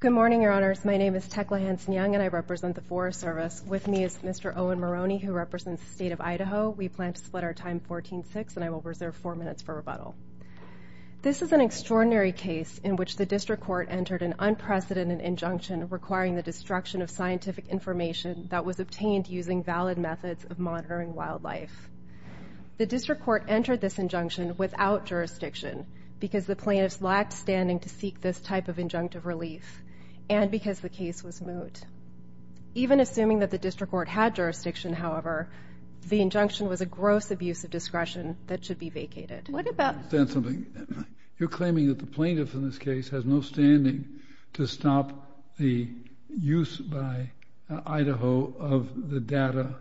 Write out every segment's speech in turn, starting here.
Good morning, Your Honors. My name is Tekla Hanson-Young, and I represent the Forest Service. With me is Mr. Owen Maroney, who represents the State of Idaho. We plan to split our time 14-6, and I will reserve 4 minutes for rebuttal. This is an extraordinary case in which the destruction of scientific information that was obtained using valid methods of monitoring wildlife. The district court entered this injunction without jurisdiction, because the plaintiffs lacked standing to seek this type of injunctive relief, and because the case was moot. Even assuming that the district court had jurisdiction, however, the injunction was a gross abuse of discretion that should be vacated. You're claiming that the plaintiff in this case has no standing to stop the use by Idaho of the data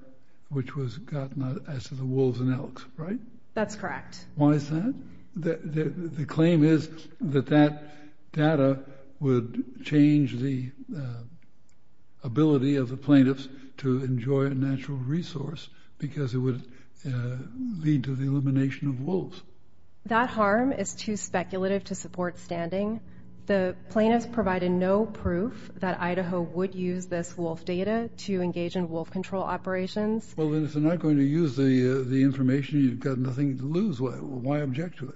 which was gotten as to the wolves and elks, right? That's correct. Why is that? The claim is that that data would change the ability of the plaintiffs to enjoy a natural resource because it would lead to the elimination of wolves. That harm is too speculative to support standing. The plaintiffs provided no proof that Idaho would use this wolf data to engage in wolf control operations. Well, then if they're not going to use the information, you've got nothing to lose. Why object to it?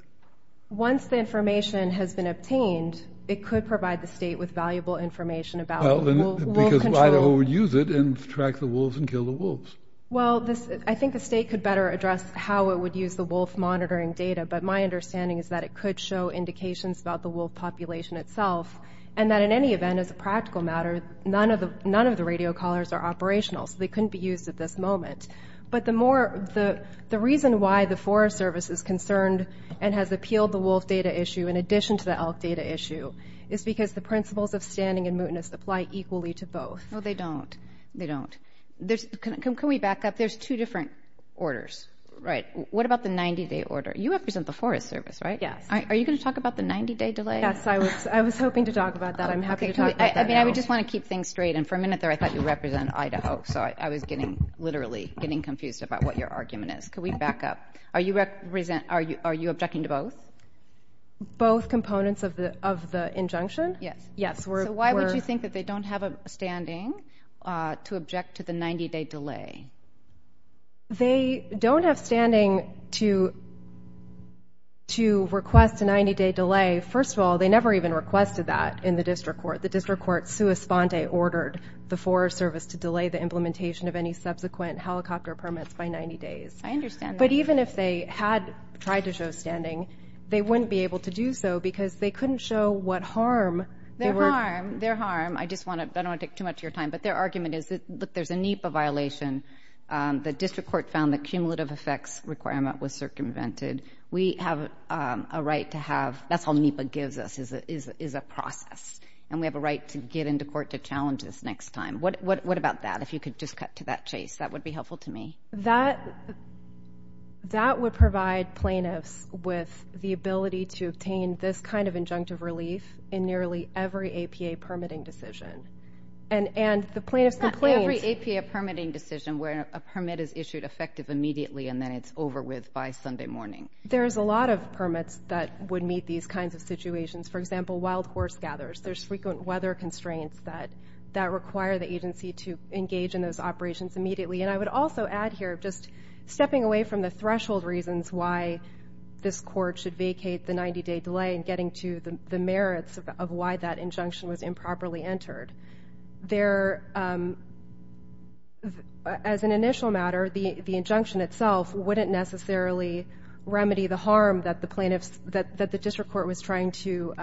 Once the information has been obtained, it could provide the state with valuable information about wolf control. Because Idaho would use it and track the wolves and kill the wolves. Well, I think the state could better address how it would use the wolf monitoring data, but my understanding is that it could show indications about the wolf population itself, and that in any event, as a practical matter, none of the radio callers are operational, so they couldn't be used at this moment. But the reason why the Forest Service is concerned and has appealed the wolf data issue in addition to the elk data issue is because the principles of standing and mootness apply equally to both. No, they don't. They don't. Can we back up? There's two different orders. Right. What about the 90-day order? You represent the Forest Service, right? Yes. Are you going to talk about the 90-day delay? Yes, I was hoping to talk about that. I'm happy to talk about that now. I mean, I just want to keep things straight, and for a minute there, I thought you represent Idaho, so I was literally getting confused about what your argument is. Can we back up? Are you objecting to both? Both components of the injunction? Yes. So why would you think that they don't have a standing to object to the 90-day delay? They don't have standing to request a 90-day delay. First of all, they never even requested that in the District Court. The District Court, sua sponte, ordered the Forest Service to delay the implementation of any subsequent helicopter permits by 90 days. I understand that. But even if they had tried to show standing, they wouldn't be able to do so because they were— They're harm. They're harm. I just want to—I don't want to take too much of your time, but their argument is that, look, there's a NEPA violation. The District Court found the cumulative effects requirement was circumvented. We have a right to have—that's all NEPA gives us is a process, and we have a right to get into court to challenge this next time. What about that? If you could just cut to that chase, that would be helpful to me. That would provide plaintiffs with the ability to obtain this kind of injunctive relief in nearly every APA permitting decision. And the plaintiffs— Not every APA permitting decision where a permit is issued effective immediately and then it's over with by Sunday morning. There's a lot of permits that would meet these kinds of situations. For example, wild horse gathers. There's frequent weather constraints that require the agency to engage in those operations immediately. And I would also add here, just stepping away from the threshold reasons why this court should vacate the 90-day delay and getting to the merits of why that injunction was improperly entered, there—as an initial matter, the injunction itself wouldn't necessarily remedy the harm that the plaintiffs—that the District Court was trying to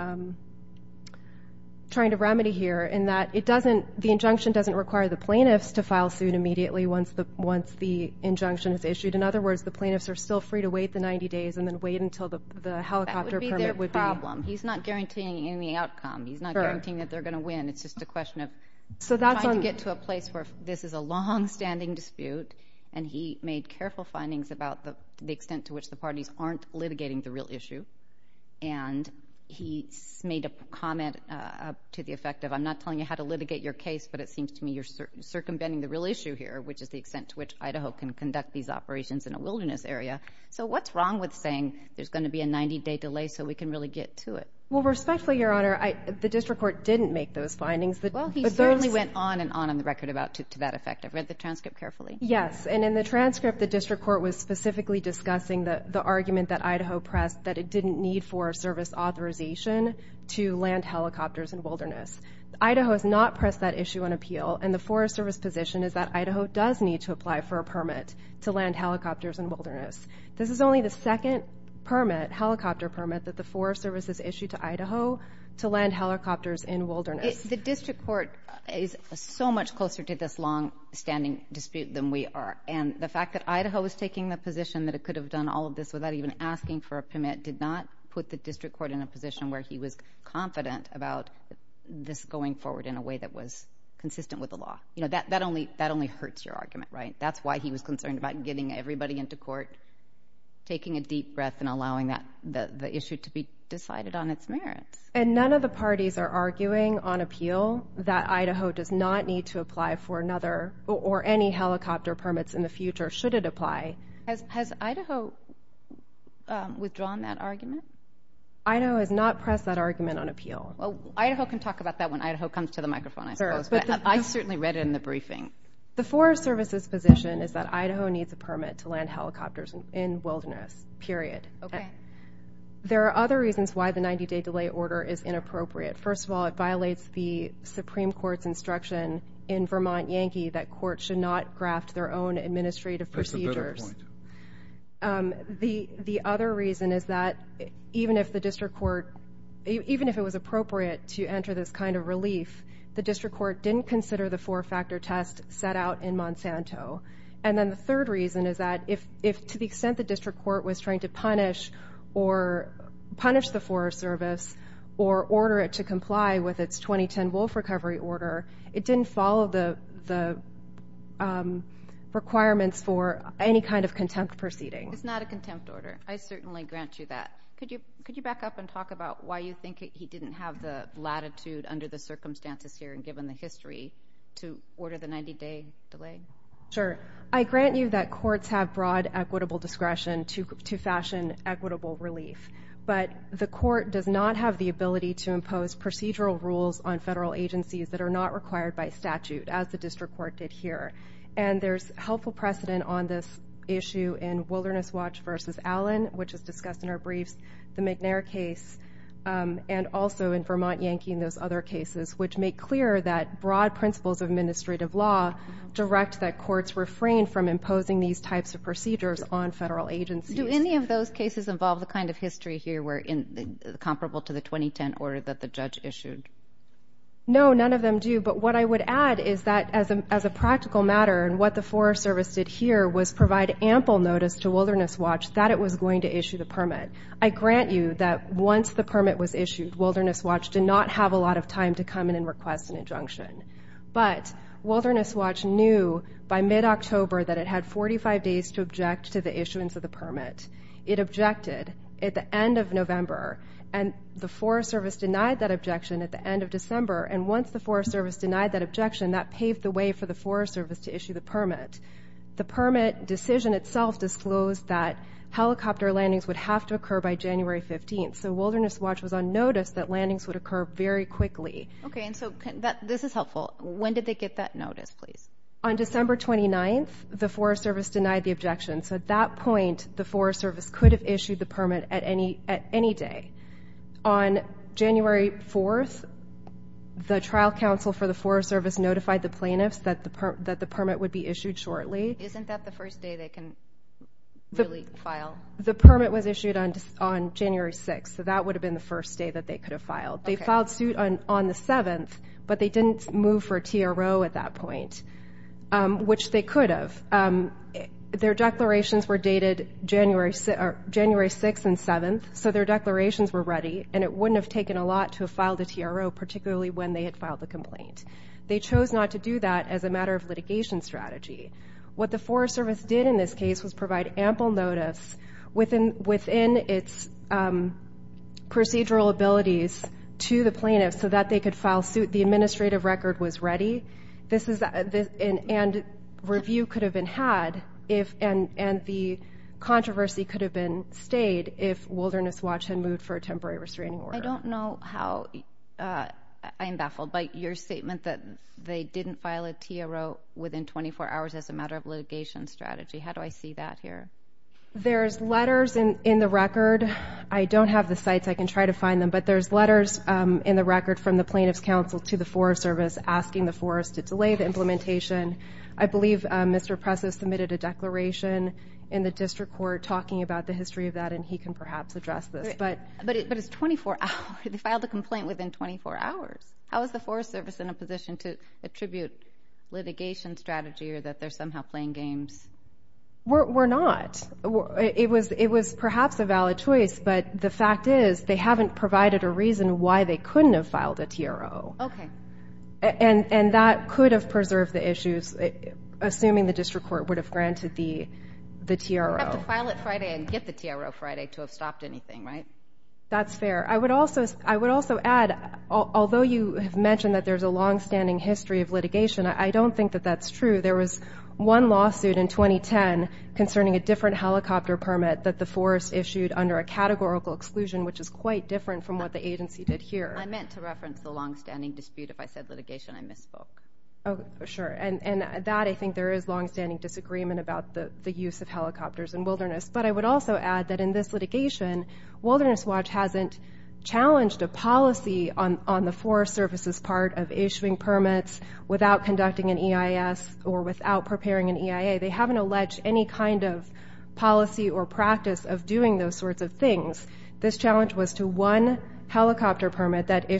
remedy here in that it doesn't—the injunction doesn't require the plaintiffs to file suit immediately once the injunction is issued. In other words, the plaintiffs are still free to wait the 90 days and then wait until the helicopter permit would be— That would be their problem. He's not guaranteeing any outcome. He's not guaranteeing that they're going to win. It's just a question of trying to get to a place where this is a long-standing dispute. And he made careful findings about the extent to which the parties aren't litigating the real issue. And he made a comment to the effect of, I'm not telling you how to litigate your case, but it seems to me you're circumventing the real issue here, which is the extent to which Idaho can conduct these operations in a wilderness area. So what's wrong with saying there's going to be a 90-day delay so we can really get to it? Well, respectfully, Your Honor, I—the District Court didn't make those findings, but— Well, he certainly went on and on on the record about—to that effect. I read the transcript carefully. Yes. And in the transcript, the District Court was specifically discussing the argument that Idaho pressed that it didn't need Forest Service authorization to land helicopters in wilderness. Idaho has not pressed that issue on appeal, and the Forest Service position is that Idaho does need to apply for a permit to land helicopters in wilderness. This is only the second permit—helicopter permit—that the Forest Service has issued to Idaho to land helicopters in wilderness. The District Court is so much closer to this long-standing dispute than we are. And the fact that Idaho is taking the position that it could have done all of this without even asking for a permit did not put the District Court in a position where he was confident about this going forward in a way that was consistent with the law. You know, that only hurts your argument, right? That's why he was concerned about getting everybody into court, taking a deep breath, and allowing the issue to be decided on its merits. And none of the parties are arguing on appeal that Idaho does not need to apply for another or any helicopter permits in the future, should it apply. Has Idaho withdrawn that argument? Idaho has not pressed that argument on appeal. Well, Idaho can talk about that when Idaho comes to the microphone, I suppose. But I certainly read it in the briefing. The Forest Service's position is that Idaho needs a permit to land helicopters in wilderness, period. Okay. There are other reasons why the 90-day delay order is inappropriate. First of all, it violates the Supreme Court's instruction in Vermont Yankee that courts should not graft their own administrative procedures. That's a better point. The other reason is that even if the district court, even if it was appropriate to enter this kind of relief, the district court didn't consider the four-factor test set out in Monsanto. And then the third reason is that if, to the extent the district court was trying to punish or punish the Forest Service or order it to comply with its 2010 wolf recovery order, it didn't follow the requirements for any kind of contempt proceeding. It's not a contempt order. I certainly grant you that. Could you back up and talk about why you think he didn't have the latitude under the circumstances here and given the history to order the 90-day delay? Sure. I grant you that courts have broad equitable discretion to fashion equitable relief. But the court does not have the ability to impose procedural rules on federal agencies that are not required by statute, as the district court did here. And there's helpful precedent on this issue in Wilderness Watch v. Allen, which is discussed in our briefs, the McNair case, and also in Vermont Yankee and those other cases, which make clear that broad principles of administrative law direct that courts refrain from imposing these types of procedures on federal agencies. Do any of those cases involve the kind of history here comparable to the 2010 order that the judge issued? No, none of them do. But what I would add is that as a practical matter and what the Forest Service did here was provide ample notice to Wilderness Watch that it was going to issue the permit. I grant you that once the permit was issued, Wilderness Watch did not have a lot of time to come in and request an injunction. But Wilderness Watch knew by mid-October that it had 45 days to object to the issuance of the permit. It objected at the end of November, and the Forest Service denied that objection at the end of December, and once the Forest Service denied that objection, that paved the way for the Forest Service to issue the permit. The permit decision itself disclosed that helicopter landings would have to occur by January 15th, so Wilderness Watch was on notice that landings would occur very quickly. Okay, and so this is helpful. When did they get that notice, please? On December 29th, the Forest Service denied the objection. So at that point, the Forest Service could have issued the permit at any day. On January 4th, the trial counsel for the Forest Service notified the plaintiffs that the permit would be issued shortly. Isn't that the first day they can really file? The permit was issued on January 6th, so that would have been the first day that they could have filed. They filed suit on the 7th, but they didn't move for a TRO at that point, which they could have. Their declarations were dated January 6th and 7th, so their declarations were ready, and it wouldn't have taken a lot to have filed a TRO, particularly when they had filed the complaint. They chose not to do that as a matter of litigation strategy. What the Forest Service did in this case was provide ample notice within its procedural abilities to the plaintiffs so that they could file suit. The administrative record was ready, and review could have been had, and the controversy could have stayed if Wilderness Watch had moved for a temporary restraining order. I don't know how I'm baffled by your statement that they didn't file a TRO within 24 hours as a matter of litigation strategy. How do I see that here? There's letters in the record. I don't have the sites. I can try to find them, but there's letters in the record from the plaintiffs' counsel to the Forest Service asking the Forest to delay the implementation. I believe Mr. Press has submitted a declaration in the district court talking about the history of that, and he can perhaps address this. But it's 24 hours. They filed a complaint within 24 hours. How is the Forest Service in a position to attribute litigation strategy or that they're somehow playing games? We're not. It was perhaps a valid choice, but the fact is they haven't provided a reason why they couldn't have filed a TRO. Okay. And that could have preserved the issues, assuming the district court would have granted the TRO. You have to file it Friday and get the TRO Friday to have stopped anything, right? That's fair. I would also add, although you have mentioned that there's a long-standing history of litigation, I don't think that that's true. There was one lawsuit in 2010 concerning a different helicopter permit that the Forest issued under a categorical exclusion, which is quite different from what the agency did here. I meant to reference the long-standing dispute. If I said litigation, I misspoke. Sure. And that, I think there is long-standing disagreement about the use of helicopters in wilderness. But I would also add that in this litigation, Wilderness Watch hasn't challenged a policy on the Forest Service's part of issuing permits without conducting an EIS or without preparing an EIA. They haven't alleged any kind of policy or practice of doing those sorts of things. This challenge was to one helicopter permit that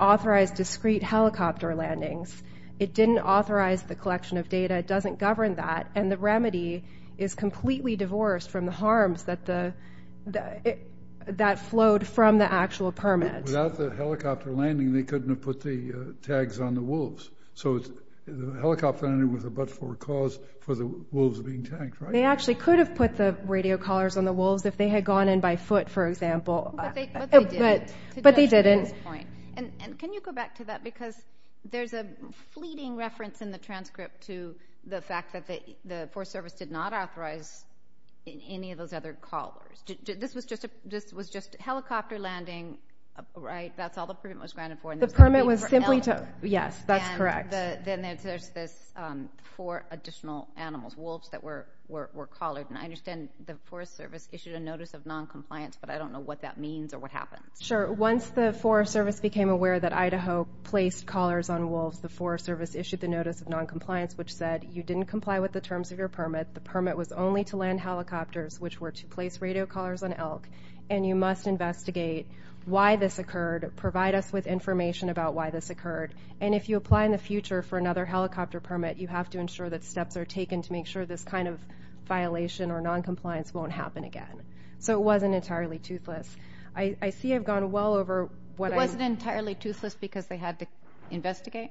authorized discrete helicopter landings. It didn't authorize the collection of data. It doesn't govern that, and the remedy is completely divorced from the harms that flowed from the actual permit. Without the helicopter landing, they couldn't have put the tags on the wolves. So the helicopter landing was a but-for-cause for the wolves being tagged, right? They actually could have put the radio collars on the wolves if they had gone in by foot, for example. But they didn't. But they didn't. And can you go back to that? Because there's a fleeting reference in the transcript to the fact that the Forest Service did not authorize any of those other collars. This was just helicopter landing, right? That's all the permit was granted for. The permit was simply to, yes, that's correct. Then there's this for additional animals, wolves that were collared. And I understand the Forest Service issued a notice of noncompliance, but I don't know what that means or what happens. Sure. Once the Forest Service became aware that Idaho placed collars on wolves, the Forest Service issued the notice of noncompliance, which said you didn't comply with the terms of your permit. The permit was only to land helicopters, which were to place radio collars on elk, and you must investigate why this occurred, provide us with information about why this occurred, and if you apply in the future for another helicopter permit, you have to ensure that steps are taken to make sure this kind of violation or noncompliance won't happen again. So it wasn't entirely toothless. I see I've gone well over what I'm – It wasn't entirely toothless because they had to investigate?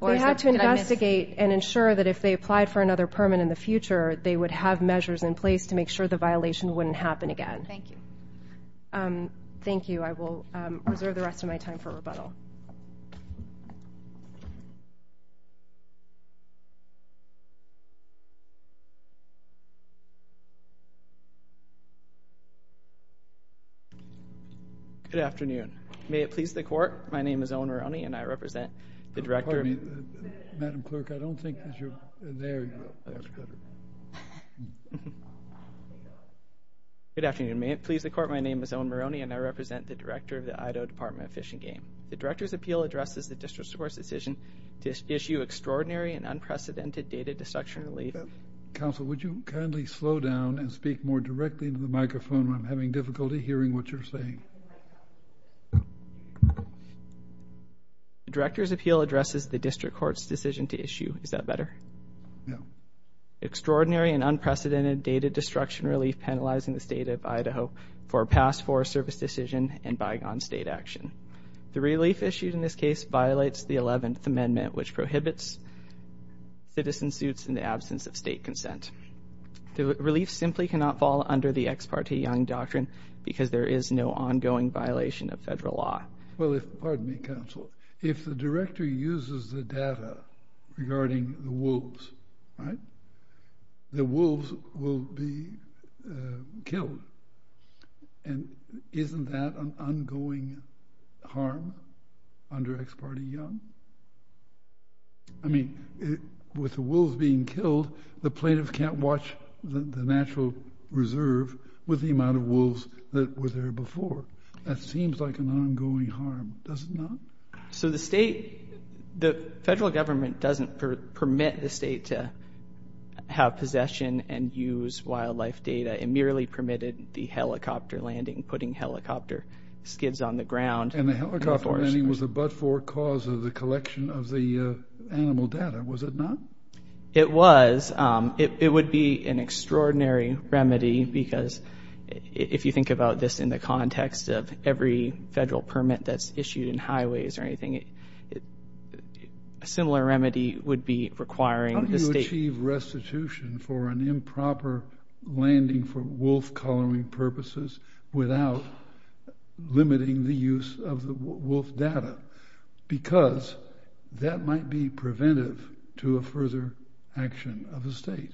They had to investigate and ensure that if they applied for another permit in the future, they would have measures in place to make sure the violation wouldn't happen again. Thank you. Thank you. I will reserve the rest of my time for rebuttal. Good afternoon. May it please the Court, my name is Owen Rowney and I represent the Director of— Pardon me, Madam Clerk, I don't think that you're there yet. That's good. Good afternoon. May it please the Court, my name is Owen Rowney and I represent the Director of the Idaho Department of Fish and Game. The Director's Appeal addresses the District Court's decision to issue extraordinary and unprecedented data destruction relief— Counsel, would you kindly slow down and speak more directly into the microphone? I'm having difficulty hearing what you're saying. The Director's Appeal addresses the District Court's decision to issue— extraordinary and unprecedented data destruction relief penalizing the State of Idaho for a past Forest Service decision and bygone State action. The relief issued in this case violates the 11th Amendment, which prohibits citizen suits in the absence of State consent. The relief simply cannot fall under the Ex parte Young Doctrine because there is no ongoing violation of Federal law. Well, if—pardon me, Counsel, if the Director uses the data regarding the wolves, right, the wolves will be killed. And isn't that an ongoing harm under Ex parte Young? I mean, with the wolves being killed, the plaintiffs can't watch the natural reserve with the amount of wolves that were there before. That seems like an ongoing harm. Does it not? So the State—the Federal Government doesn't permit the State to have possession and use wildlife data. It merely permitted the helicopter landing, putting helicopter skids on the ground. And the helicopter landing was a but-for cause of the collection of the animal data. Was it not? It was. It would be an extraordinary remedy because if you think about this in the context of every Federal permit that's issued in highways or anything, a similar remedy would be requiring the State— How do you achieve restitution for an improper landing for wolf-collaring purposes without limiting the use of the wolf data? Because that might be preventive to a further action of the State.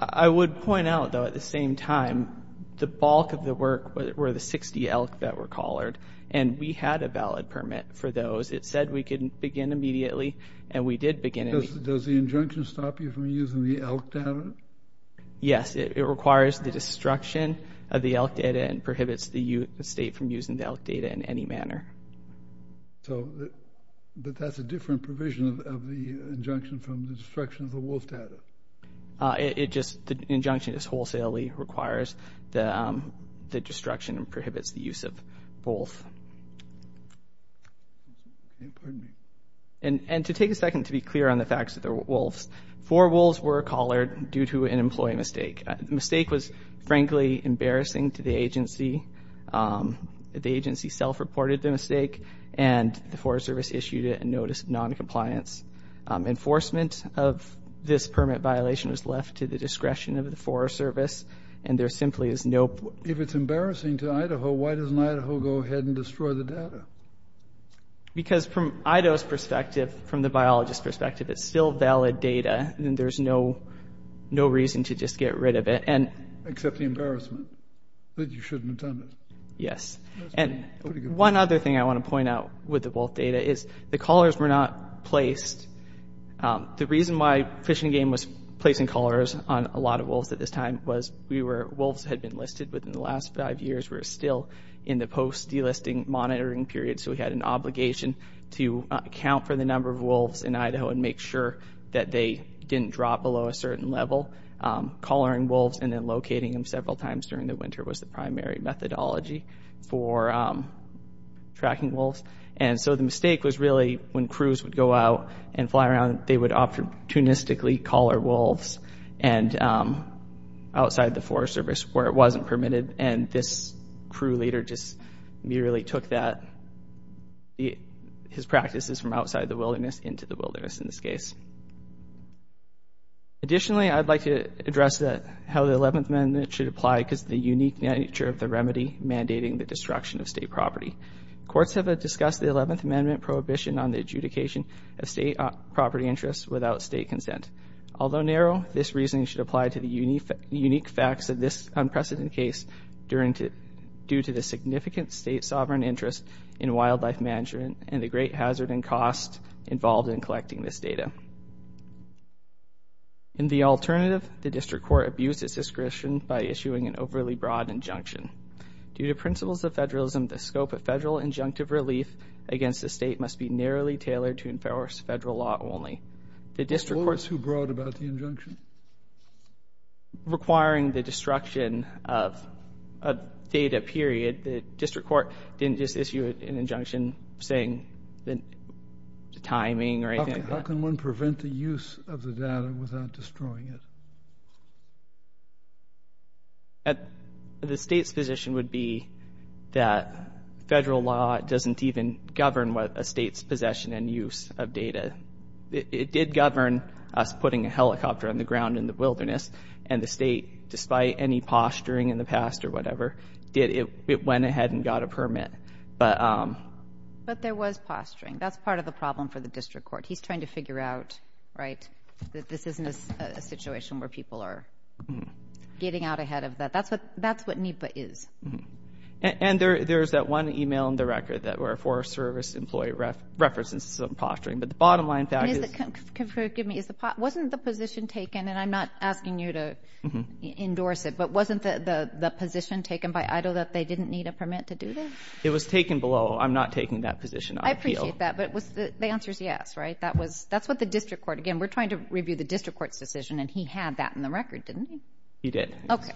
I would point out, though, at the same time, the bulk of the work were the 60 elk that were collared, and we had a valid permit for those. It said we could begin immediately, and we did begin immediately. Does the injunction stop you from using the elk data? Yes, it requires the destruction of the elk data and prohibits the State from using the elk data in any manner. So, but that's a different provision of the injunction from the destruction of the wolf data. It just—the injunction just wholesalely requires the destruction and prohibits the use of wolf. And to take a second to be clear on the facts of the wolves. Four wolves were collared due to an employee mistake. The mistake was, frankly, embarrassing to the agency. The agency self-reported the mistake, and the Forest Service issued a notice of noncompliance. Enforcement of this permit violation was left to the discretion of the Forest Service, and there simply is no— If it's embarrassing to Idaho, why doesn't Idaho go ahead and destroy the data? Because from Idaho's perspective, from the biologist's perspective, it's still valid data, and there's no reason to just get rid of it. Except the embarrassment that you shouldn't have done it. Yes. And one other thing I want to point out with the wolf data is the collars were not placed. The reason why Fish and Game was placing collars on a lot of wolves at this time was we were— wolves had been listed within the last five years. We're still in the post-delisting monitoring period, so we had an obligation to account for the number of wolves in Idaho and make sure that they didn't drop below a certain level. So collaring wolves and then locating them several times during the winter was the primary methodology for tracking wolves. And so the mistake was really when crews would go out and fly around, they would opportunistically collar wolves outside the Forest Service where it wasn't permitted. And this crew leader just merely took that— his practices from outside the wilderness into the wilderness in this case. Additionally, I'd like to address how the 11th Amendment should apply because of the unique nature of the remedy mandating the destruction of state property. Courts have discussed the 11th Amendment prohibition on the adjudication of state property interests without state consent. Although narrow, this reasoning should apply to the unique facts of this unprecedented case due to the significant state sovereign interest in wildlife management and the great hazard and cost involved in collecting this data. In the alternative, the district court abused its discretion by issuing an overly broad injunction. Due to principles of federalism, the scope of federal injunctive relief against the state must be narrowly tailored to enforce federal law only. The district court— What was so broad about the injunction? Requiring the destruction of a data period, The district court didn't just issue an injunction saying the timing or anything like that. How can one prevent the use of the data without destroying it? The state's position would be that federal law doesn't even govern a state's possession and use of data. It did govern us putting a helicopter on the ground in the wilderness, and the state, despite any posturing in the past or whatever, it went ahead and got a permit. But there was posturing. That's part of the problem for the district court. He's trying to figure out that this isn't a situation where people are getting out ahead of that. That's what NEPA is. And there's that one email in the record where a Forest Service employee represents some posturing, but the bottom line fact is— Forgive me. Wasn't the position taken, and I'm not asking you to endorse it, but wasn't the position taken by EIDL that they didn't need a permit to do this? It was taken below. I'm not taking that position on appeal. I appreciate that, but the answer is yes, right? That's what the district court—again, we're trying to review the district court's decision, and he had that in the record, didn't he? He did. Okay.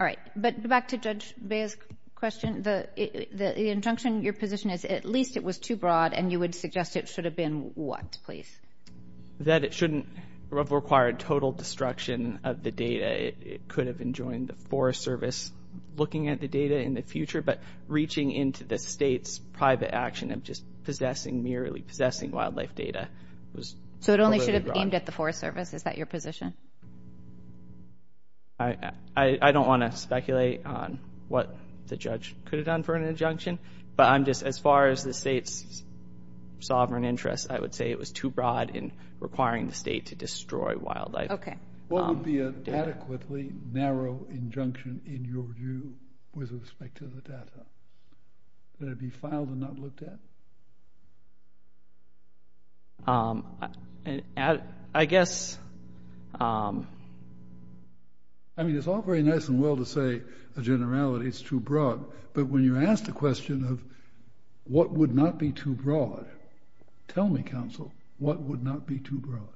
All right. But back to Judge Baez's question. The injunction, your position is at least it was too broad, and you would suggest it should have been what, please? That it shouldn't have required total destruction of the data. It could have enjoined the Forest Service looking at the data in the future, but reaching into the state's private action of just possessing, merely possessing wildlife data was overly broad. So it only should have aimed at the Forest Service? Is that your position? I don't want to speculate on what the judge could have done for an injunction, but I'm just—as far as the state's sovereign interest, I would say it was too broad in requiring the state to destroy wildlife. Okay. What would be an adequately narrow injunction in your view with respect to the data? Would it be filed and not looked at? I guess— I mean, it's all very nice and well to say a generality is too broad, but when you're asked the question of what would not be too broad, tell me, counsel, what would not be too broad?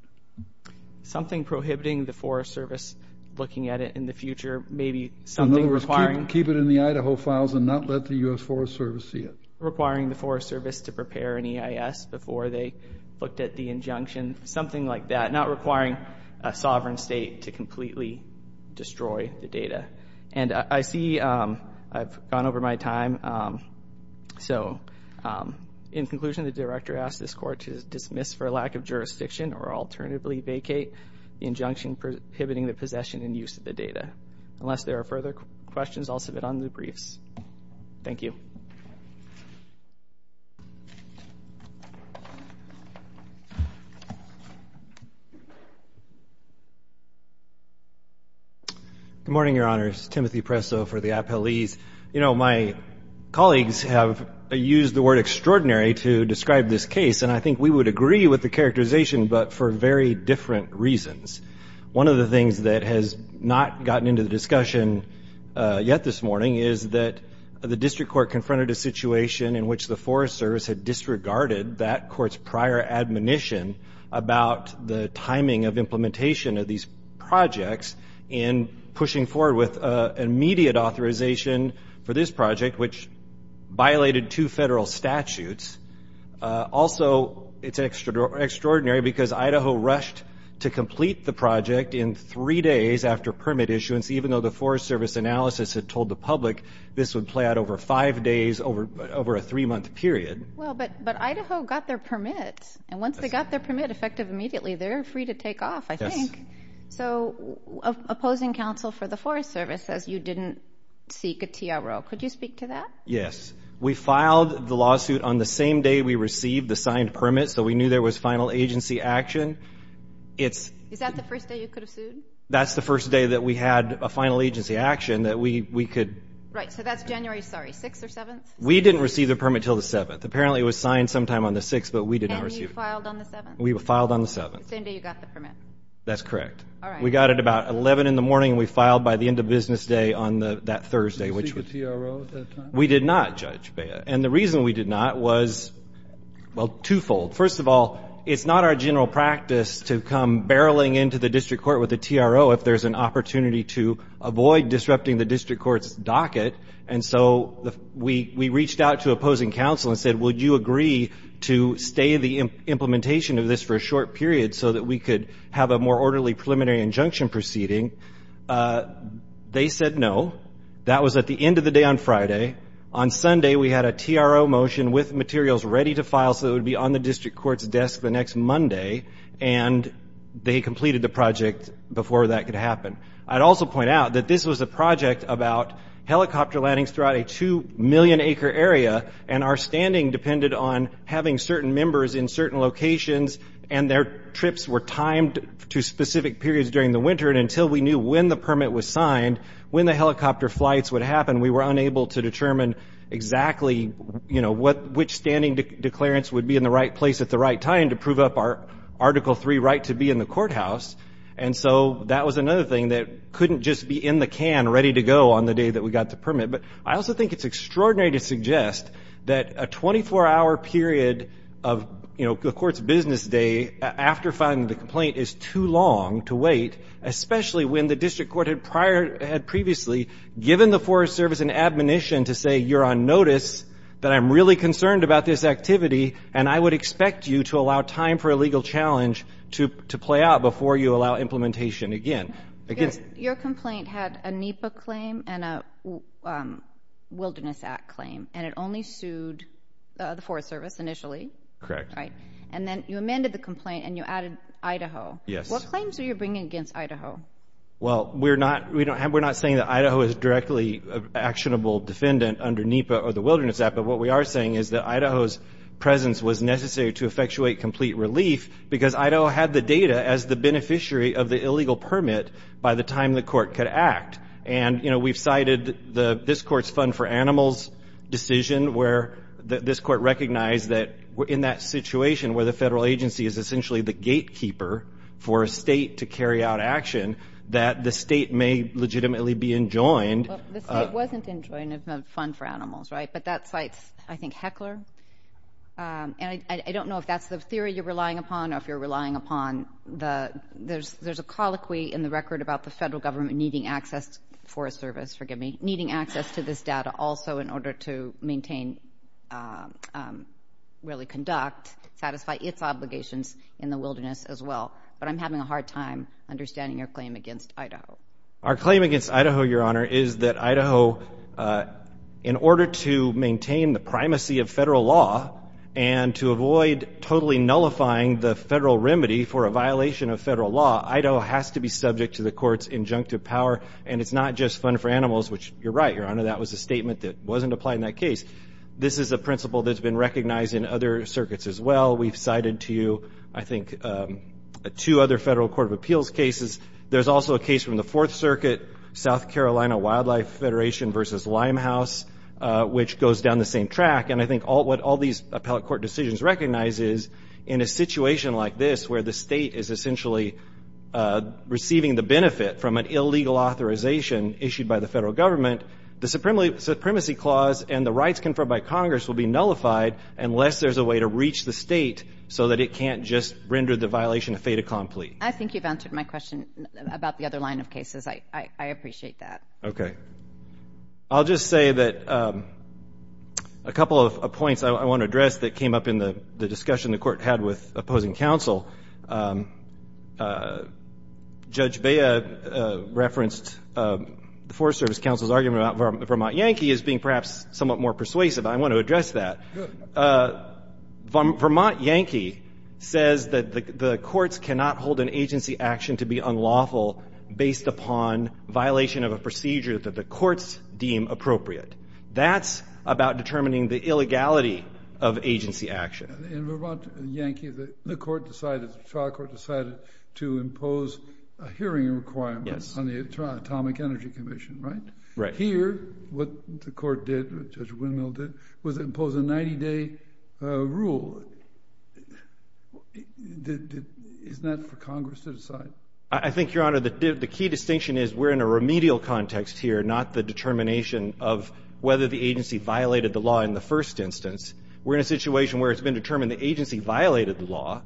Something prohibiting the Forest Service looking at it in the future, maybe something requiring— In other words, keep it in the Idaho files and not let the U.S. Forest Service see it. Requiring the Forest Service to prepare an EIS before they looked at the injunction, something like that. Not requiring a sovereign state to completely destroy the data. And I see I've gone over my time, so in conclusion, the director asked this court to dismiss for lack of jurisdiction or alternatively vacate the injunction prohibiting the possession and use of the data. Unless there are further questions, I'll submit on the briefs. Thank you. Good morning, Your Honors. Timothy Presso for the Apelles. You know, my colleagues have used the word extraordinary to describe this case, and I think we would agree with the characterization, but for very different reasons. One of the things that has not gotten into the discussion yet this morning is that the district court confronted a situation in which the Forest Service had disregarded that court's prior admonition about the timing of implementation of these projects in pushing forward with immediate authorization for this project, which violated two federal statutes. Also, it's extraordinary because Idaho rushed to complete the project in three days after permit issuance, even though the Forest Service analysis had told the public this would play out over five days over a three-month period. Well, but Idaho got their permit, and once they got their permit effective immediately, they're free to take off, I think. So opposing counsel for the Forest Service says you didn't seek a TRO. Could you speak to that? Yes. We filed the lawsuit on the same day we received the signed permit, so we knew there was final agency action. Is that the first day you could have sued? That's the first day that we had a final agency action that we could. Right. So that's January 6th or 7th? We didn't receive the permit until the 7th. Apparently it was signed sometime on the 6th, but we didn't receive it. And you filed on the 7th? We filed on the 7th. The same day you got the permit? That's correct. All right. We got it about 11 in the morning, and we filed by the end of business day on that Thursday. Did you seek a TRO at that time? We did not, Judge Bea. And the reason we did not was, well, twofold. First of all, it's not our general practice to come barreling into the district court with a TRO if there's an opportunity to avoid disrupting the district court's docket. And so we reached out to opposing counsel and said, will you agree to stay in the implementation of this for a short period so that we could have a more orderly preliminary injunction proceeding? They said no. That was at the end of the day on Friday. On Sunday we had a TRO motion with materials ready to file so it would be on the district court's desk the next Monday, and they completed the project before that could happen. I'd also point out that this was a project about helicopter landings throughout a 2-million-acre area and our standing depended on having certain members in certain locations and their trips were timed to specific periods during the winter. And until we knew when the permit was signed, when the helicopter flights would happen, we were unable to determine exactly, you know, which standing declarants would be in the right place at the right time to prove up our Article III right to be in the courthouse. And so that was another thing that couldn't just be in the can ready to go on the day that we got the permit. But I also think it's extraordinary to suggest that a 24-hour period of, you know, the court's business day after finding the complaint is too long to wait, especially when the district court had previously given the Forest Service an admonition to say, you're on notice, that I'm really concerned about this activity, and I would expect you to allow time for a legal challenge to play out before you allow implementation again. Your complaint had a NEPA claim and a Wilderness Act claim, and it only sued the Forest Service initially. Correct. And then you amended the complaint and you added Idaho. Yes. What claims are you bringing against Idaho? Well, we're not saying that Idaho is directly an actionable defendant under NEPA or the Wilderness Act, but what we are saying is that Idaho's presence was necessary to effectuate complete relief because Idaho had the data as the beneficiary of the illegal permit by the time the court could act. And, you know, we've cited this court's fund for animals decision where this court recognized that in that situation where the federal agency is essentially the gatekeeper for a state to carry out action, that the state may legitimately be enjoined. The state wasn't enjoined in the fund for animals, right? But that cites, I think, Heckler. And I don't know if that's the theory you're relying upon or if you're relying upon the ‑‑ there's a colloquy in the record about the federal government needing access for a service, forgive me, needing access to this data also in order to maintain, really conduct, satisfy its obligations in the wilderness as well. But I'm having a hard time understanding your claim against Idaho. Our claim against Idaho, Your Honor, is that Idaho, in order to maintain the primacy of federal law and to avoid totally nullifying the federal remedy for a violation of federal law, Idaho has to be subject to the court's injunctive power. And it's not just fund for animals, which you're right, Your Honor, that was a statement that wasn't applied in that case. This is a principle that's been recognized in other circuits as well. We've cited to you, I think, two other federal court of appeals cases. There's also a case from the Fourth Circuit, South Carolina Wildlife Federation versus Limehouse, which goes down the same track. And I think what all these appellate court decisions recognize is in a situation like this where the state is essentially receiving the benefit from an illegal authorization issued by the federal government, the supremacy clause and the rights conferred by Congress will be nullified unless there's a way to reach the state so that it can't just render the violation a fait accompli. I think you've answered my question about the other line of cases. I appreciate that. Okay. I'll just say that a couple of points I want to address that came up in the discussion the court had with opposing counsel. Judge Bea referenced the Forest Service Counsel's argument about Vermont Yankee as being perhaps somewhat more persuasive. I want to address that. Vermont Yankee says that the courts cannot hold an agency action to be unlawful based upon violation of a procedure that the courts deem appropriate. That's about determining the illegality of agency action. In Vermont Yankee, the trial court decided to impose a hearing requirement on the Atomic Energy Commission, right? Right. But here, what the court did, what Judge Windmill did, was impose a 90-day rule. Isn't that for Congress to decide? I think, Your Honor, the key distinction is we're in a remedial context here, not the determination of whether the agency violated the law in the first instance. We're in a situation where it's been determined the agency violated the law.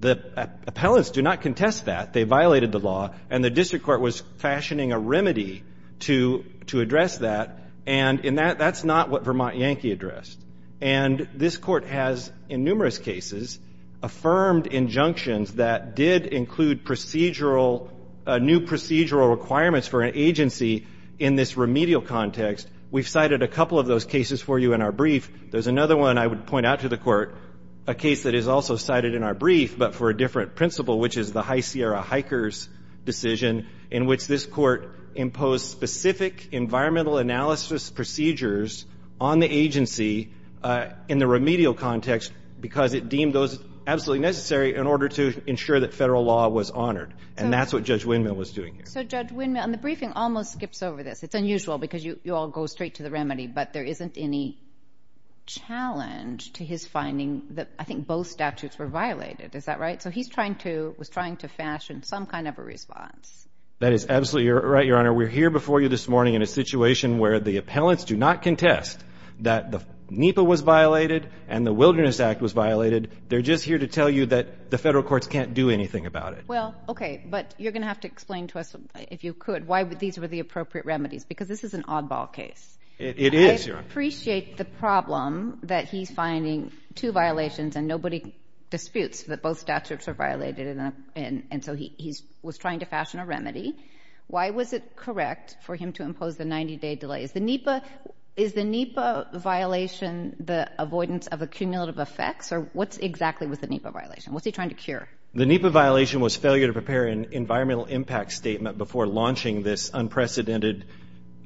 The appellants do not contest that. They violated the law, and the district court was fashioning a remedy to address that, and that's not what Vermont Yankee addressed. And this Court has, in numerous cases, affirmed injunctions that did include procedural, new procedural requirements for an agency in this remedial context. We've cited a couple of those cases for you in our brief. There's another one I would point out to the Court, a case that is also cited in our brief, but for a different principle, which is the High Sierra Hikers decision, in which this Court imposed specific environmental analysis procedures on the agency in the remedial context because it deemed those absolutely necessary in order to ensure that federal law was honored, and that's what Judge Windmill was doing here. So, Judge Windmill, and the briefing almost skips over this. It's unusual because you all go straight to the remedy, but there isn't any challenge to his finding that I think both statutes were violated. Is that right? So he was trying to fashion some kind of a response. That is absolutely right, Your Honor. We're here before you this morning in a situation where the appellants do not contest that the NEPA was violated and the Wilderness Act was violated. They're just here to tell you that the federal courts can't do anything about it. Well, okay, but you're going to have to explain to us, if you could, why these were the appropriate remedies because this is an oddball case. It is, Your Honor. I appreciate the problem that he's finding two violations and nobody disputes that both statutes are violated, and so he was trying to fashion a remedy. Why was it correct for him to impose the 90-day delay? Is the NEPA violation the avoidance of accumulative effects, or what exactly was the NEPA violation? What's he trying to cure? The NEPA violation was failure to prepare an environmental impact statement before launching this unprecedented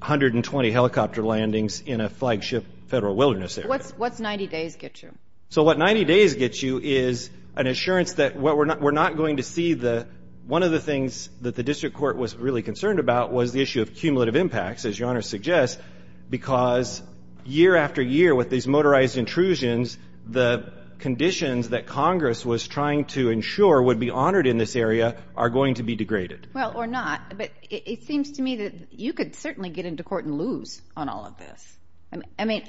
120 helicopter landings in a flagship federal wilderness area. What's 90 days get you? So what 90 days gets you is an assurance that we're not going to see the one of the things that the district court was really concerned about was the issue of cumulative impacts, as Your Honor suggests, because year after year with these motorized intrusions, the conditions that Congress was trying to ensure would be honored in this area are going to be degraded. Well, or not. But it seems to me that you could certainly get into court and lose on all of this. I mean,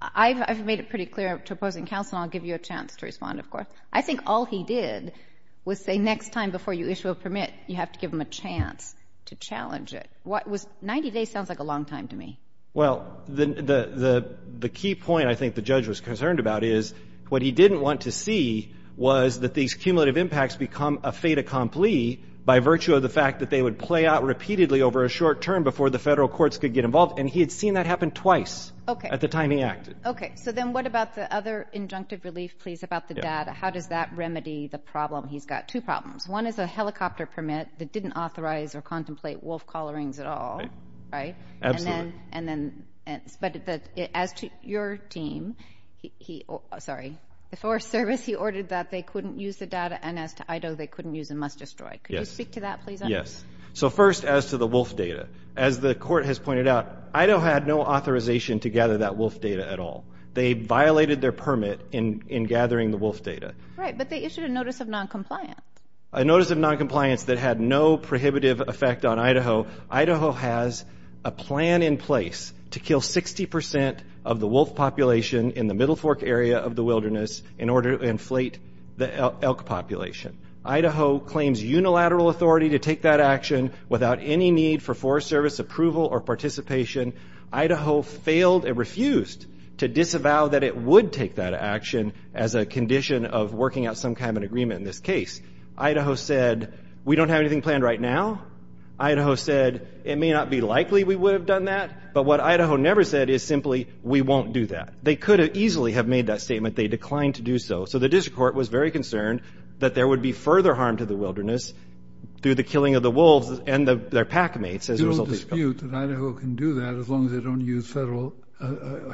I've made it pretty clear to opposing counsel, and I'll give you a chance to respond, of course. I think all he did was say next time before you issue a permit, you have to give them a chance to challenge it. 90 days sounds like a long time to me. Well, the key point I think the judge was concerned about is what he didn't want to see was that these cumulative impacts become a fait accompli by virtue of the fact that they would play out repeatedly over a short term before the federal courts could get involved, and he had seen that happen twice at the time he acted. Okay. So then what about the other injunctive relief, please, about the data? How does that remedy the problem? He's got two problems. One is a helicopter permit that didn't authorize or contemplate wolf collarings at all, right? Absolutely. But as to your team, sorry, the Forest Service, he ordered that they couldn't use the data, and as to IDO, they couldn't use and must destroy. Could you speak to that, please? Yes. So first, as to the wolf data, as the court has pointed out, IDO had no authorization to gather that wolf data at all. They violated their permit in gathering the wolf data. Right, but they issued a notice of noncompliance. A notice of noncompliance that had no prohibitive effect on Idaho. Idaho has a plan in place to kill 60% of the wolf population in the Middle Fork area of the wilderness in order to inflate the elk population. Idaho claims unilateral authority to take that action without any need for Forest Service approval or participation. Idaho failed and refused to disavow that it would take that action as a condition of working out some kind of agreement in this case. Idaho said, we don't have anything planned right now. Idaho said, it may not be likely we would have done that, but what Idaho never said is simply, we won't do that. They could have easily have made that statement. They declined to do so. So the district court was very concerned that there would be further harm to the wilderness through the killing of the wolves and their pack mates as a result of this. You don't dispute that Idaho can do that as long as they don't use federal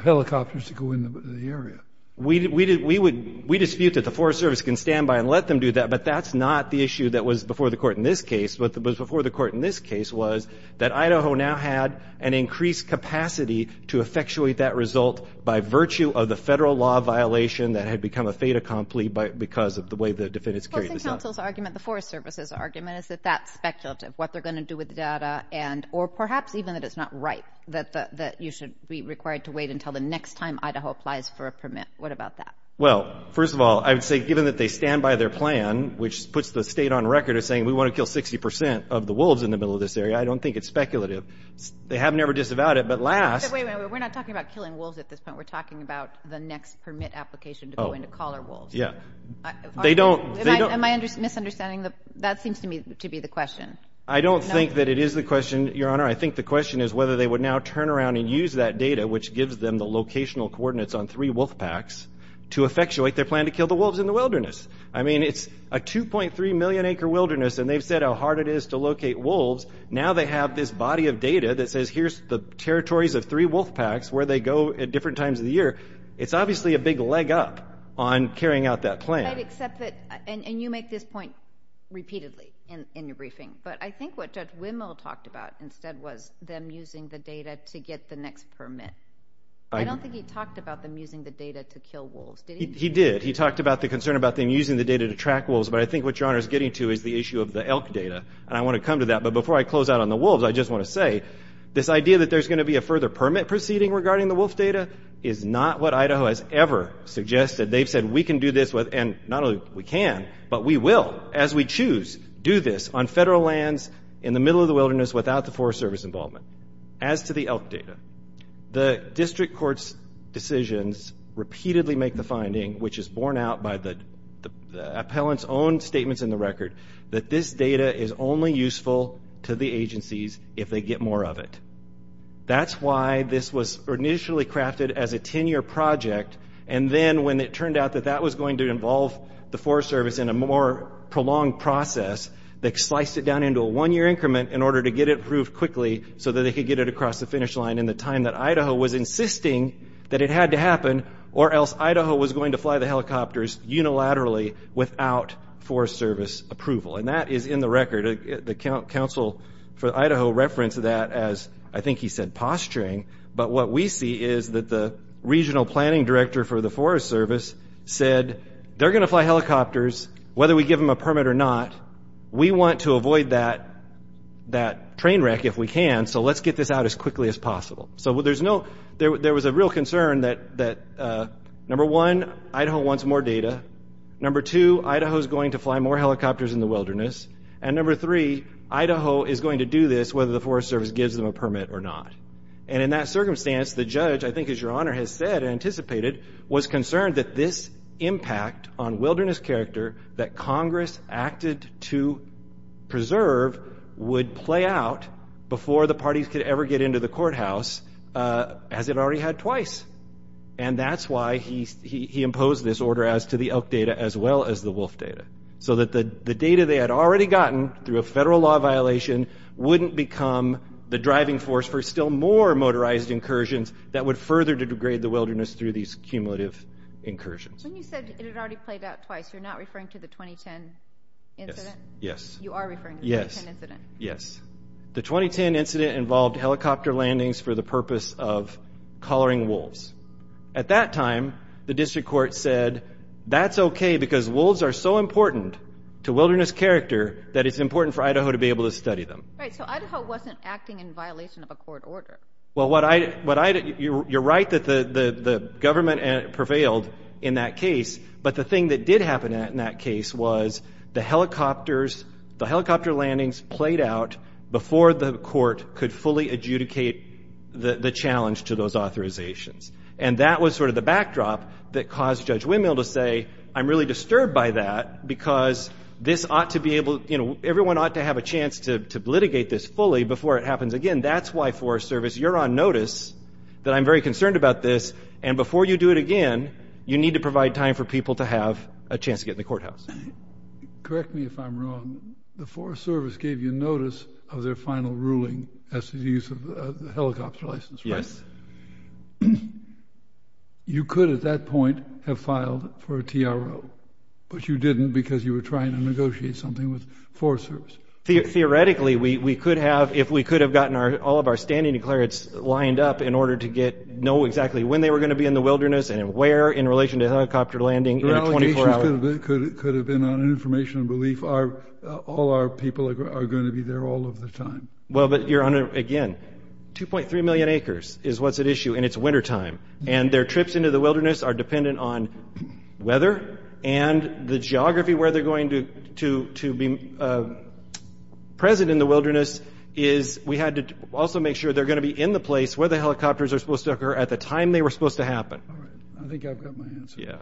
helicopters to go in the area. We dispute that the Forest Service can stand by and let them do that, but that's not the issue that was before the court in this case. What was before the court in this case was that Idaho now had an increased capacity to effectuate that result by virtue of the federal law violation that had become a fait accompli because of the way the defendants carried this out. The Forest Service's argument is that that's speculative, what they're going to do with the data, or perhaps even that it's not right, that you should be required to wait until the next time Idaho applies for a permit. What about that? Well, first of all, I would say given that they stand by their plan, which puts the state on record as saying we want to kill 60 percent of the wolves in the middle of this area, I don't think it's speculative. They have never disavowed it. But last... Wait a minute. We're not talking about killing wolves at this point. We're talking about the next permit application to go into collar wolves. Yeah. They don't... Am I misunderstanding? That seems to me to be the question. I don't think that it is the question, Your Honor. I think the question is whether they would now turn around and use that data, which gives them the locational coordinates on three wolf packs, to effectuate their plan to kill the wolves in the wilderness. I mean, it's a 2.3 million-acre wilderness, and they've said how hard it is to locate wolves. Now they have this body of data that says here's the territories of three wolf packs, where they go at different times of the year. It's obviously a big leg up on carrying out that plan. I'd accept that. And you make this point repeatedly in your briefing. But I think what Judge Wimmel talked about instead was them using the data to get the next permit. I don't think he talked about them using the data to kill wolves. He did. He talked about the concern about them using the data to track wolves. But I think what Your Honor is getting to is the issue of the elk data. And I want to come to that. But before I close out on the wolves, I just want to say, this idea that there's going to be a further permit proceeding regarding the wolf data is not what Idaho has ever suggested. They've said we can do this with... Not only we can, but we will, as we choose, do this on federal lands, in the middle of the wilderness, without the Forest Service involvement. As to the elk data, the district court's decisions repeatedly make the finding, which is borne out by the appellant's own statements in the record, that this data is only useful to the agencies if they get more of it. That's why this was initially crafted as a 10-year project, and then when it turned out that that was going to involve the Forest Service in a more prolonged process, they sliced it down into a one-year increment in order to get it approved quickly so that they could get it across the finish line in the time that Idaho was insisting that it had to happen, or else Idaho was going to fly the helicopters unilaterally without Forest Service approval. And that is in the record. The counsel for Idaho referenced that as, I think he said, posturing. But what we see is that the regional planning director for the Forest Service said, they're going to fly helicopters whether we give them a permit or not. We want to avoid that train wreck if we can, so let's get this out as quickly as possible. So there was a real concern that, number one, Idaho wants more data. Number two, Idaho is going to fly more helicopters in the wilderness. And number three, Idaho is going to do this whether the Forest Service gives them a permit or not. And in that circumstance, the judge, I think as Your Honor has said and anticipated, was concerned that this impact on wilderness character that Congress acted to preserve would play out before the parties could ever get into the courthouse, as it already had twice. And that's why he imposed this order as to the elk data as well as the wolf data, so that the data they had already gotten through a federal law violation wouldn't become the driving force for still more motorized incursions that would further degrade the wilderness through these cumulative incursions. When you said it had already played out twice, you're not referring to the 2010 incident? Yes. You are referring to the 2010 incident? Yes. The 2010 incident involved helicopter landings for the purpose of collaring wolves. At that time, the district court said, that's okay because wolves are so important to wilderness character that it's important for Idaho to be able to study them. Right. So Idaho wasn't acting in violation of a court order. Well, you're right that the government prevailed in that case, but the thing that did happen in that case was the helicopter landings played out before the court could fully adjudicate the challenge to those authorizations. And that was sort of the backdrop that caused Judge Winmill to say, I'm really disturbed by that because everyone ought to have a chance to litigate this fully before it happens again. That's why Forest Service, you're on notice that I'm very concerned about this, and before you do it again, you need to provide time for people to have a chance to get in the courthouse. Correct me if I'm wrong, the Forest Service gave you notice of their final ruling as to the use of the helicopter license, right? Yes. You could at that point have filed for a TRO, but you didn't because you were trying to negotiate something with Forest Service. Theoretically, we could have if we could have gotten all of our standing declarants lined up in order to know exactly when they were going to be in the wilderness and where in relation to helicopter landing in a 24-hour. Your allegations could have been on information and belief. All our people are going to be there all of the time. Well, but, Your Honor, again, 2.3 million acres is what's at issue, and it's wintertime, and their trips into the wilderness are dependent on weather and the geography where they're going to be present in the wilderness. We had to also make sure they're going to be in the place where the helicopters are supposed to occur at the time they were supposed to happen. I think I've got my answer.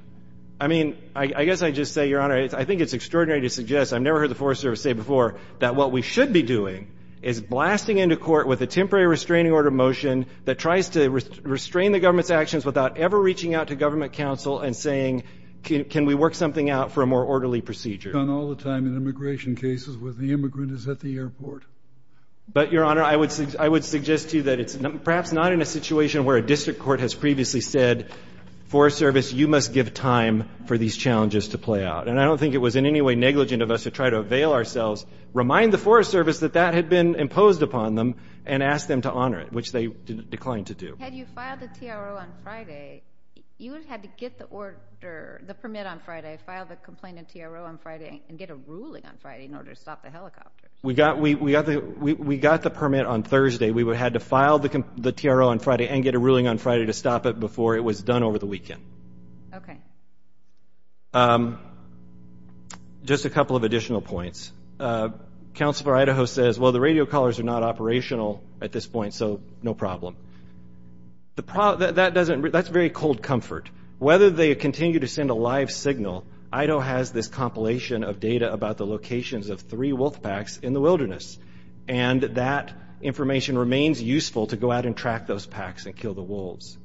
I mean, I guess I'd just say, Your Honor, I think it's extraordinary to suggest, I've never heard the Forest Service say before, that what we should be doing is blasting into court with a temporary restraining order motion that tries to restrain the government's actions without ever reaching out to government counsel and saying can we work something out for a more orderly procedure. It's done all the time in immigration cases where the immigrant is at the airport. But, Your Honor, I would suggest to you that it's perhaps not in a situation where a district court has previously said, Forest Service, you must give time for these challenges to play out. And I don't think it was in any way negligent of us to try to avail ourselves, remind the Forest Service that that had been imposed upon them, and ask them to honor it, which they declined to do. Had you filed the TRO on Friday, you would have had to get the order, the permit on Friday, file the complainant TRO on Friday, and get a ruling on Friday in order to stop the helicopter. We got the permit on Thursday. We had to file the TRO on Friday and get a ruling on Friday to stop it before it was done over the weekend. Thank you. Okay. Just a couple of additional points. Counsel for Idaho says, well, the radio callers are not operational at this point, so no problem. That's very cold comfort. Whether they continue to send a live signal, Idaho has this compilation of data about the locations of three wolf packs in the wilderness. And that information remains useful to go out and track those packs and kill the wolves.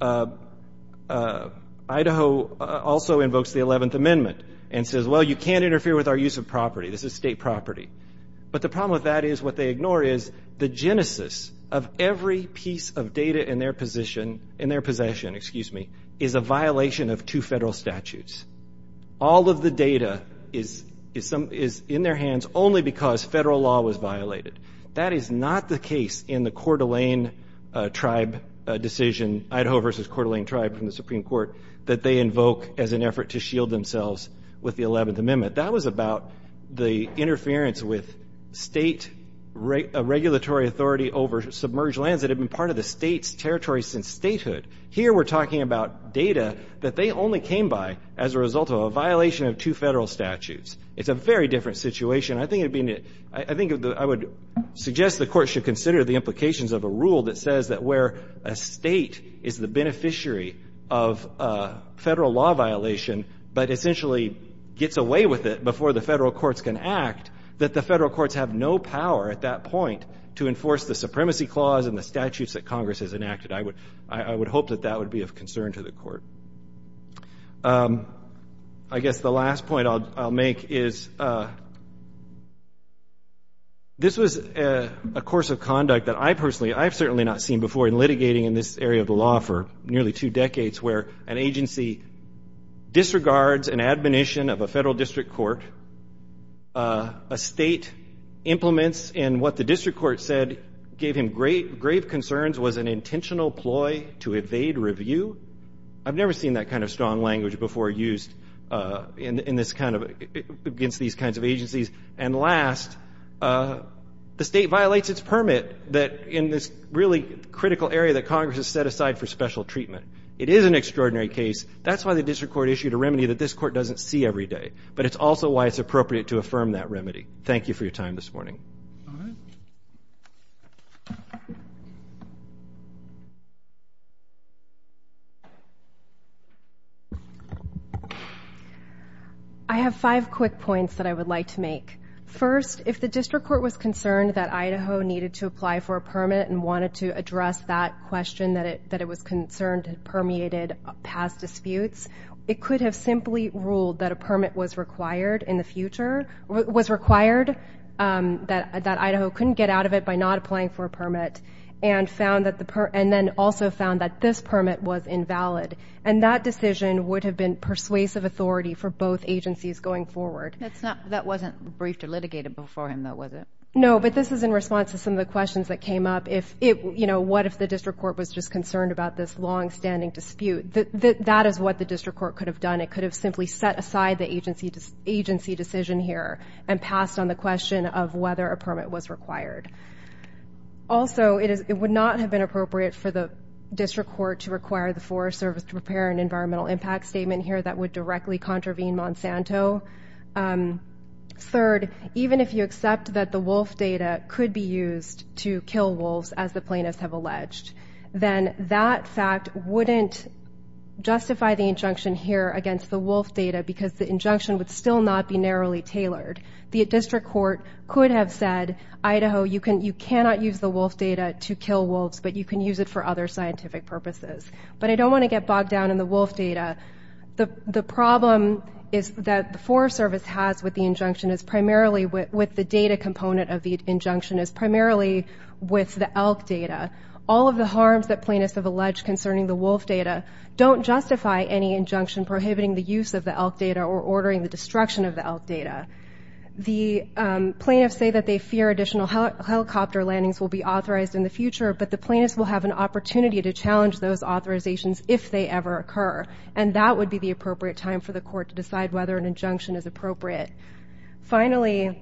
Idaho also invokes the 11th Amendment and says, well, you can't interfere with our use of property. This is state property. But the problem with that is what they ignore is the genesis of every piece of data in their position, in their possession, excuse me, is a violation of two federal statutes. All of the data is in their hands only because federal law was violated. That is not the case in the Coeur d'Alene tribe decision, Idaho versus Coeur d'Alene tribe from the Supreme Court, that they invoke as an effort to shield themselves with the 11th Amendment. That was about the interference with state regulatory authority over submerged lands that had been part of the state's territory since statehood. Here we're talking about data that they only came by as a result of a violation of two federal statutes. It's a very different situation. I think it would be, I think I would suggest the court should consider the implications of a rule that says that where a state is the beneficiary of a federal law violation, but essentially gets away with it before the federal courts can act, that the federal courts have no power at that point to enforce the supremacy clause and the statutes that Congress has enacted. I would hope that that would be of concern to the court. I guess the last point I'll make is this was a course of conduct that I personally, I've certainly not seen before in litigating in this area of the law for nearly two decades where an agency disregards an admonition of a federal district court, a state implements in what the district court said gave him grave concerns, was an intentional ploy to evade review. I've never seen that kind of strong language before used in this kind of, against these kinds of agencies. And last, the state violates its permit that in this really critical area that Congress has set aside for special treatment. It is an extraordinary case. That's why the district court issued a remedy that this court doesn't see every day, but it's also why it's appropriate to affirm that remedy. Thank you for your time this morning. Thank you. I have five quick points that I would like to make. First, if the district court was concerned that Idaho needed to apply for a permit and wanted to address that question that it was concerned permeated past disputes, it could have simply ruled that a permit was required in the future, was required, that Idaho couldn't get out of it by not applying for a permit and then also found that this permit was invalid. And that decision would have been persuasive authority for both agencies going forward. That wasn't briefed or litigated before him, though, was it? No, but this is in response to some of the questions that came up. What if the district court was just concerned about this longstanding dispute? That is what the district court could have done. It could have simply set aside the agency decision here and passed on the question of whether a permit was required. Also, it would not have been appropriate for the district court to require the Forest Service to prepare an environmental impact statement here that would directly contravene Monsanto. Third, even if you accept that the wolf data could be used to kill wolves, as the plaintiffs have alleged, then that fact wouldn't justify the injunction here against the wolf data because the injunction would still not be narrowly tailored. The district court could have said, Idaho, you cannot use the wolf data to kill wolves, but you can use it for other scientific purposes. But I don't want to get bogged down in the wolf data. The problem that the Forest Service has with the injunction is primarily with the data component of the injunction is primarily with the elk data. All of the harms that plaintiffs have alleged concerning the wolf data don't justify any injunction prohibiting the use of the elk data or ordering the destruction of the elk data. The plaintiffs say that they fear additional helicopter landings will be authorized in the future, but the plaintiffs will have an opportunity to challenge those authorizations if they ever occur, and that would be the appropriate time for the court to decide whether an injunction is appropriate. Finally,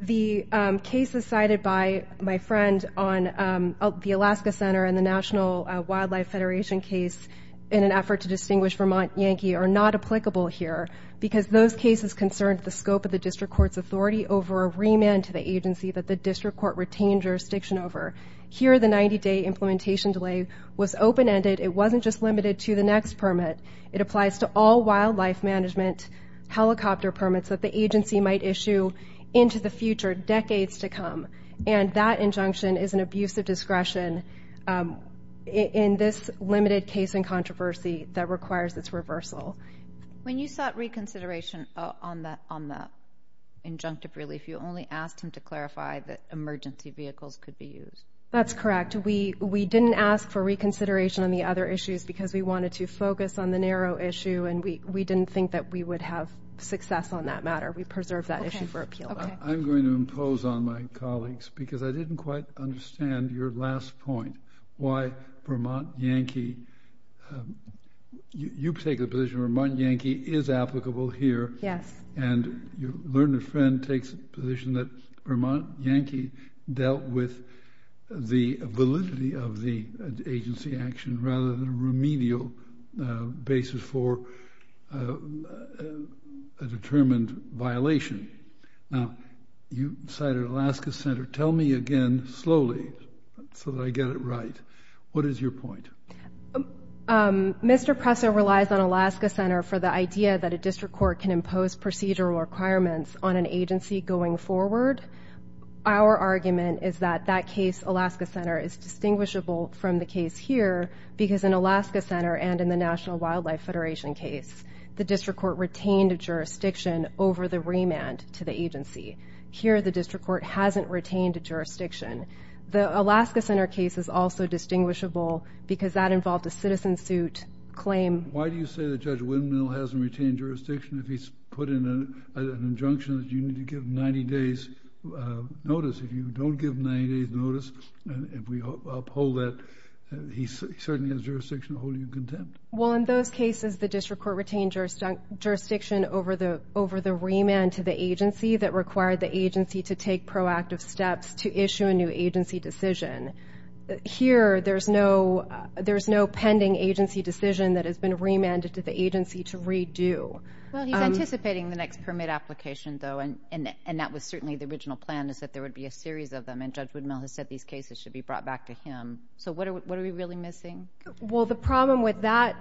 the cases cited by my friend on the Alaska Center and the National Wildlife Federation case in an effort to distinguish Vermont Yankee are not applicable here because those cases concerned the scope of the district court's authority over a remand to the agency that the district court retained jurisdiction over. Here, the 90-day implementation delay was open-ended. It wasn't just limited to the next permit. It applies to all wildlife management helicopter permits that the agency might issue into the future, decades to come, and that injunction is an abuse of discretion in this limited case and controversy that requires its reversal. When you sought reconsideration on that injunctive relief, you only asked him to clarify that emergency vehicles could be used. That's correct. We didn't ask for reconsideration on the other issues because we wanted to focus on the narrow issue, and we didn't think that we would have success on that matter. We preserved that issue for appeal. Okay. I'm going to impose on my colleagues because I didn't quite understand your last point, why Vermont Yankee, you take the position Vermont Yankee is applicable here. Yes. And your learned friend takes the position that Vermont Yankee dealt with the validity of the agency action rather than a remedial basis for a determined violation. Now, you cited Alaska Center. Tell me again slowly so that I get it right. What is your point? Mr. Presser relies on Alaska Center for the idea that a district court can impose procedural requirements on an agency going forward. Our argument is that that case, Alaska Center, is distinguishable from the case here because in Alaska Center and in the National Wildlife Federation case, the district court retained a jurisdiction over the remand to the agency. Here, the district court hasn't retained a jurisdiction. The Alaska Center case is also distinguishable because that involved a citizen suit claim. Why do you say that Judge Windmill hasn't retained jurisdiction if he's put in an injunction that you need to give 90 days' notice? If you don't give 90 days' notice and we uphold that, he certainly has jurisdiction to hold you content. Well, in those cases, the district court retained jurisdiction over the remand to the agency that required the agency to take proactive steps to issue a new agency decision. Here, there's no pending agency decision that has been remanded to the agency to redo. Well, he's anticipating the next permit application, though, and that was certainly the original plan is that there would be a series of them, and Judge Windmill has said these cases should be brought back to him. So what are we really missing? Well, the problem with that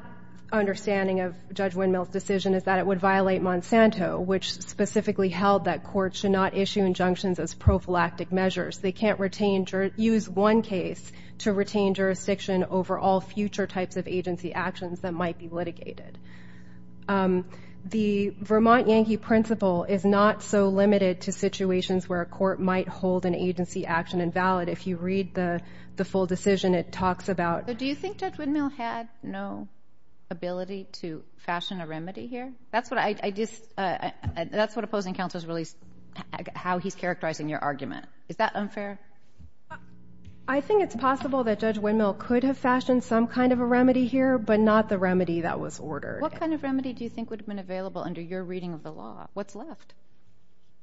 understanding of Judge Windmill's decision is that it would violate Monsanto, which specifically held that courts should not issue injunctions as prophylactic measures. They can't use one case to retain jurisdiction over all future types of agency actions that might be litigated. The Vermont Yankee principle is not so limited to situations where a court might hold an agency action invalid. If you read the full decision, it talks about— So do you think Judge Windmill had no ability to fashion a remedy here? That's what I just—that's what opposing counsel has released, how he's characterizing your argument. Is that unfair? I think it's possible that Judge Windmill could have fashioned some kind of a remedy here, but not the remedy that was ordered. What kind of remedy do you think would have been available under your reading of the law? What's left?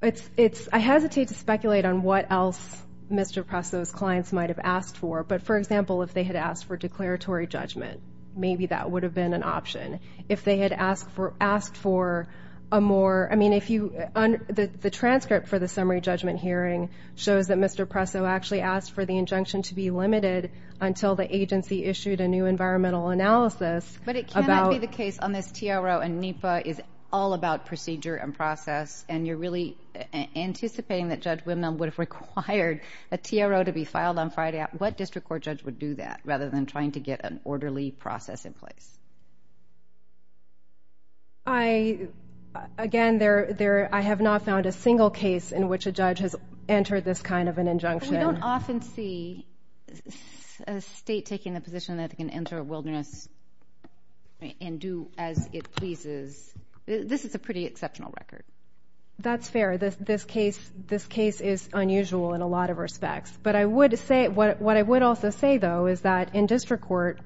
I hesitate to speculate on what else Mr. Presto's clients might have asked for, but, for example, if they had asked for declaratory judgment, maybe that would have been an option. If they had asked for a more—I mean, if you—the transcript for the summary judgment hearing shows that Mr. Presto actually asked for the injunction to be limited until the agency issued a new environmental analysis about— But it cannot be the case, unless TRO and NEPA is all about procedure and process, and you're really anticipating that Judge Windmill would have required a TRO to be filed on Friday. What district court judge would do that, rather than trying to get an orderly process in place? Again, I have not found a single case in which a judge has entered this kind of an injunction. We don't often see a state taking the position that it can enter a wilderness and do as it pleases. This is a pretty exceptional record. That's fair. This case is unusual in a lot of respects. But I would say—what I would also say, though, is that in district court,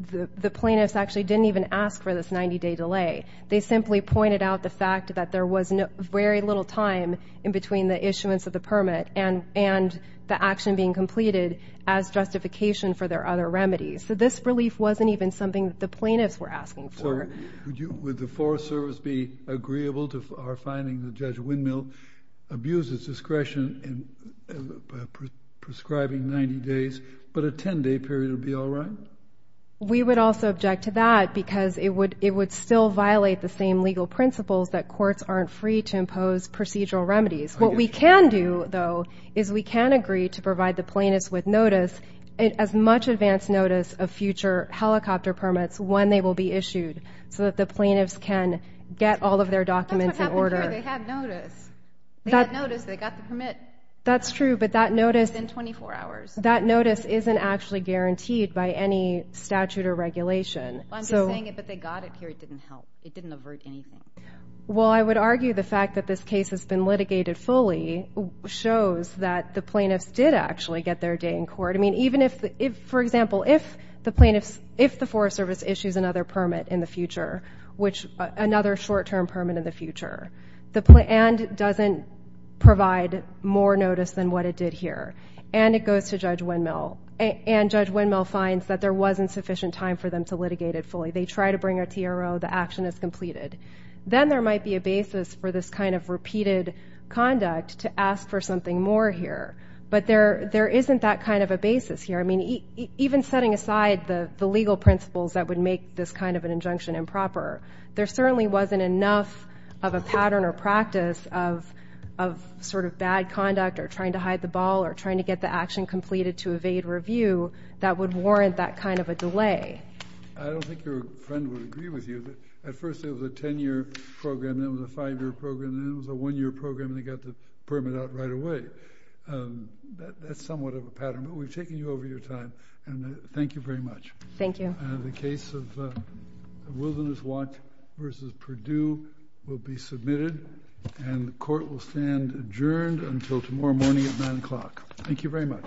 the plaintiffs actually didn't even ask for this 90-day delay. They simply pointed out the fact that there was very little time in between the issuance of the permit and the action being completed as justification for their other remedies. So this relief wasn't even something that the plaintiffs were asking for. Would the Forest Service be agreeable to our finding that Judge Windmill abused its discretion in prescribing 90 days, but a 10-day period would be all right? We would also object to that because it would still violate the same legal principles that courts aren't free to impose procedural remedies. What we can do, though, is we can agree to provide the plaintiffs with notice, as much advance notice of future helicopter permits when they will be issued so that the plaintiffs can get all of their documents in order. That's what happened here. They had notice. They had notice. They got the permit. That's true, but that notice— Within 24 hours. That notice isn't actually guaranteed by any statute or regulation. I'm just saying if they got it here, it didn't help. It didn't avert anything. Well, I would argue the fact that this case has been litigated fully shows that the plaintiffs did actually get their day in court. For example, if the Forest Service issues another permit in the future, another short-term permit in the future, and doesn't provide more notice than what it did here, and it goes to Judge Windmill, and Judge Windmill finds that there wasn't sufficient time for them to litigate it fully, they try to bring a TRO, the action is completed, then there might be a basis for this kind of repeated conduct to ask for something more here. But there isn't that kind of a basis here. Even setting aside the legal principles that would make this kind of an injunction improper, there certainly wasn't enough of a pattern or practice of sort of bad conduct or trying to hide the ball or trying to get the action completed to evade review that would warrant that kind of a delay. I don't think your friend would agree with you. At first it was a 10-year program, then it was a 5-year program, then it was a 1-year program, and they got the permit out right away. That's somewhat of a pattern. But we've taken you over your time, and thank you very much. Thank you. The case of Wilderness Walk v. Perdue will be submitted, and the court will stand adjourned until tomorrow morning at 9 o'clock. Thank you very much.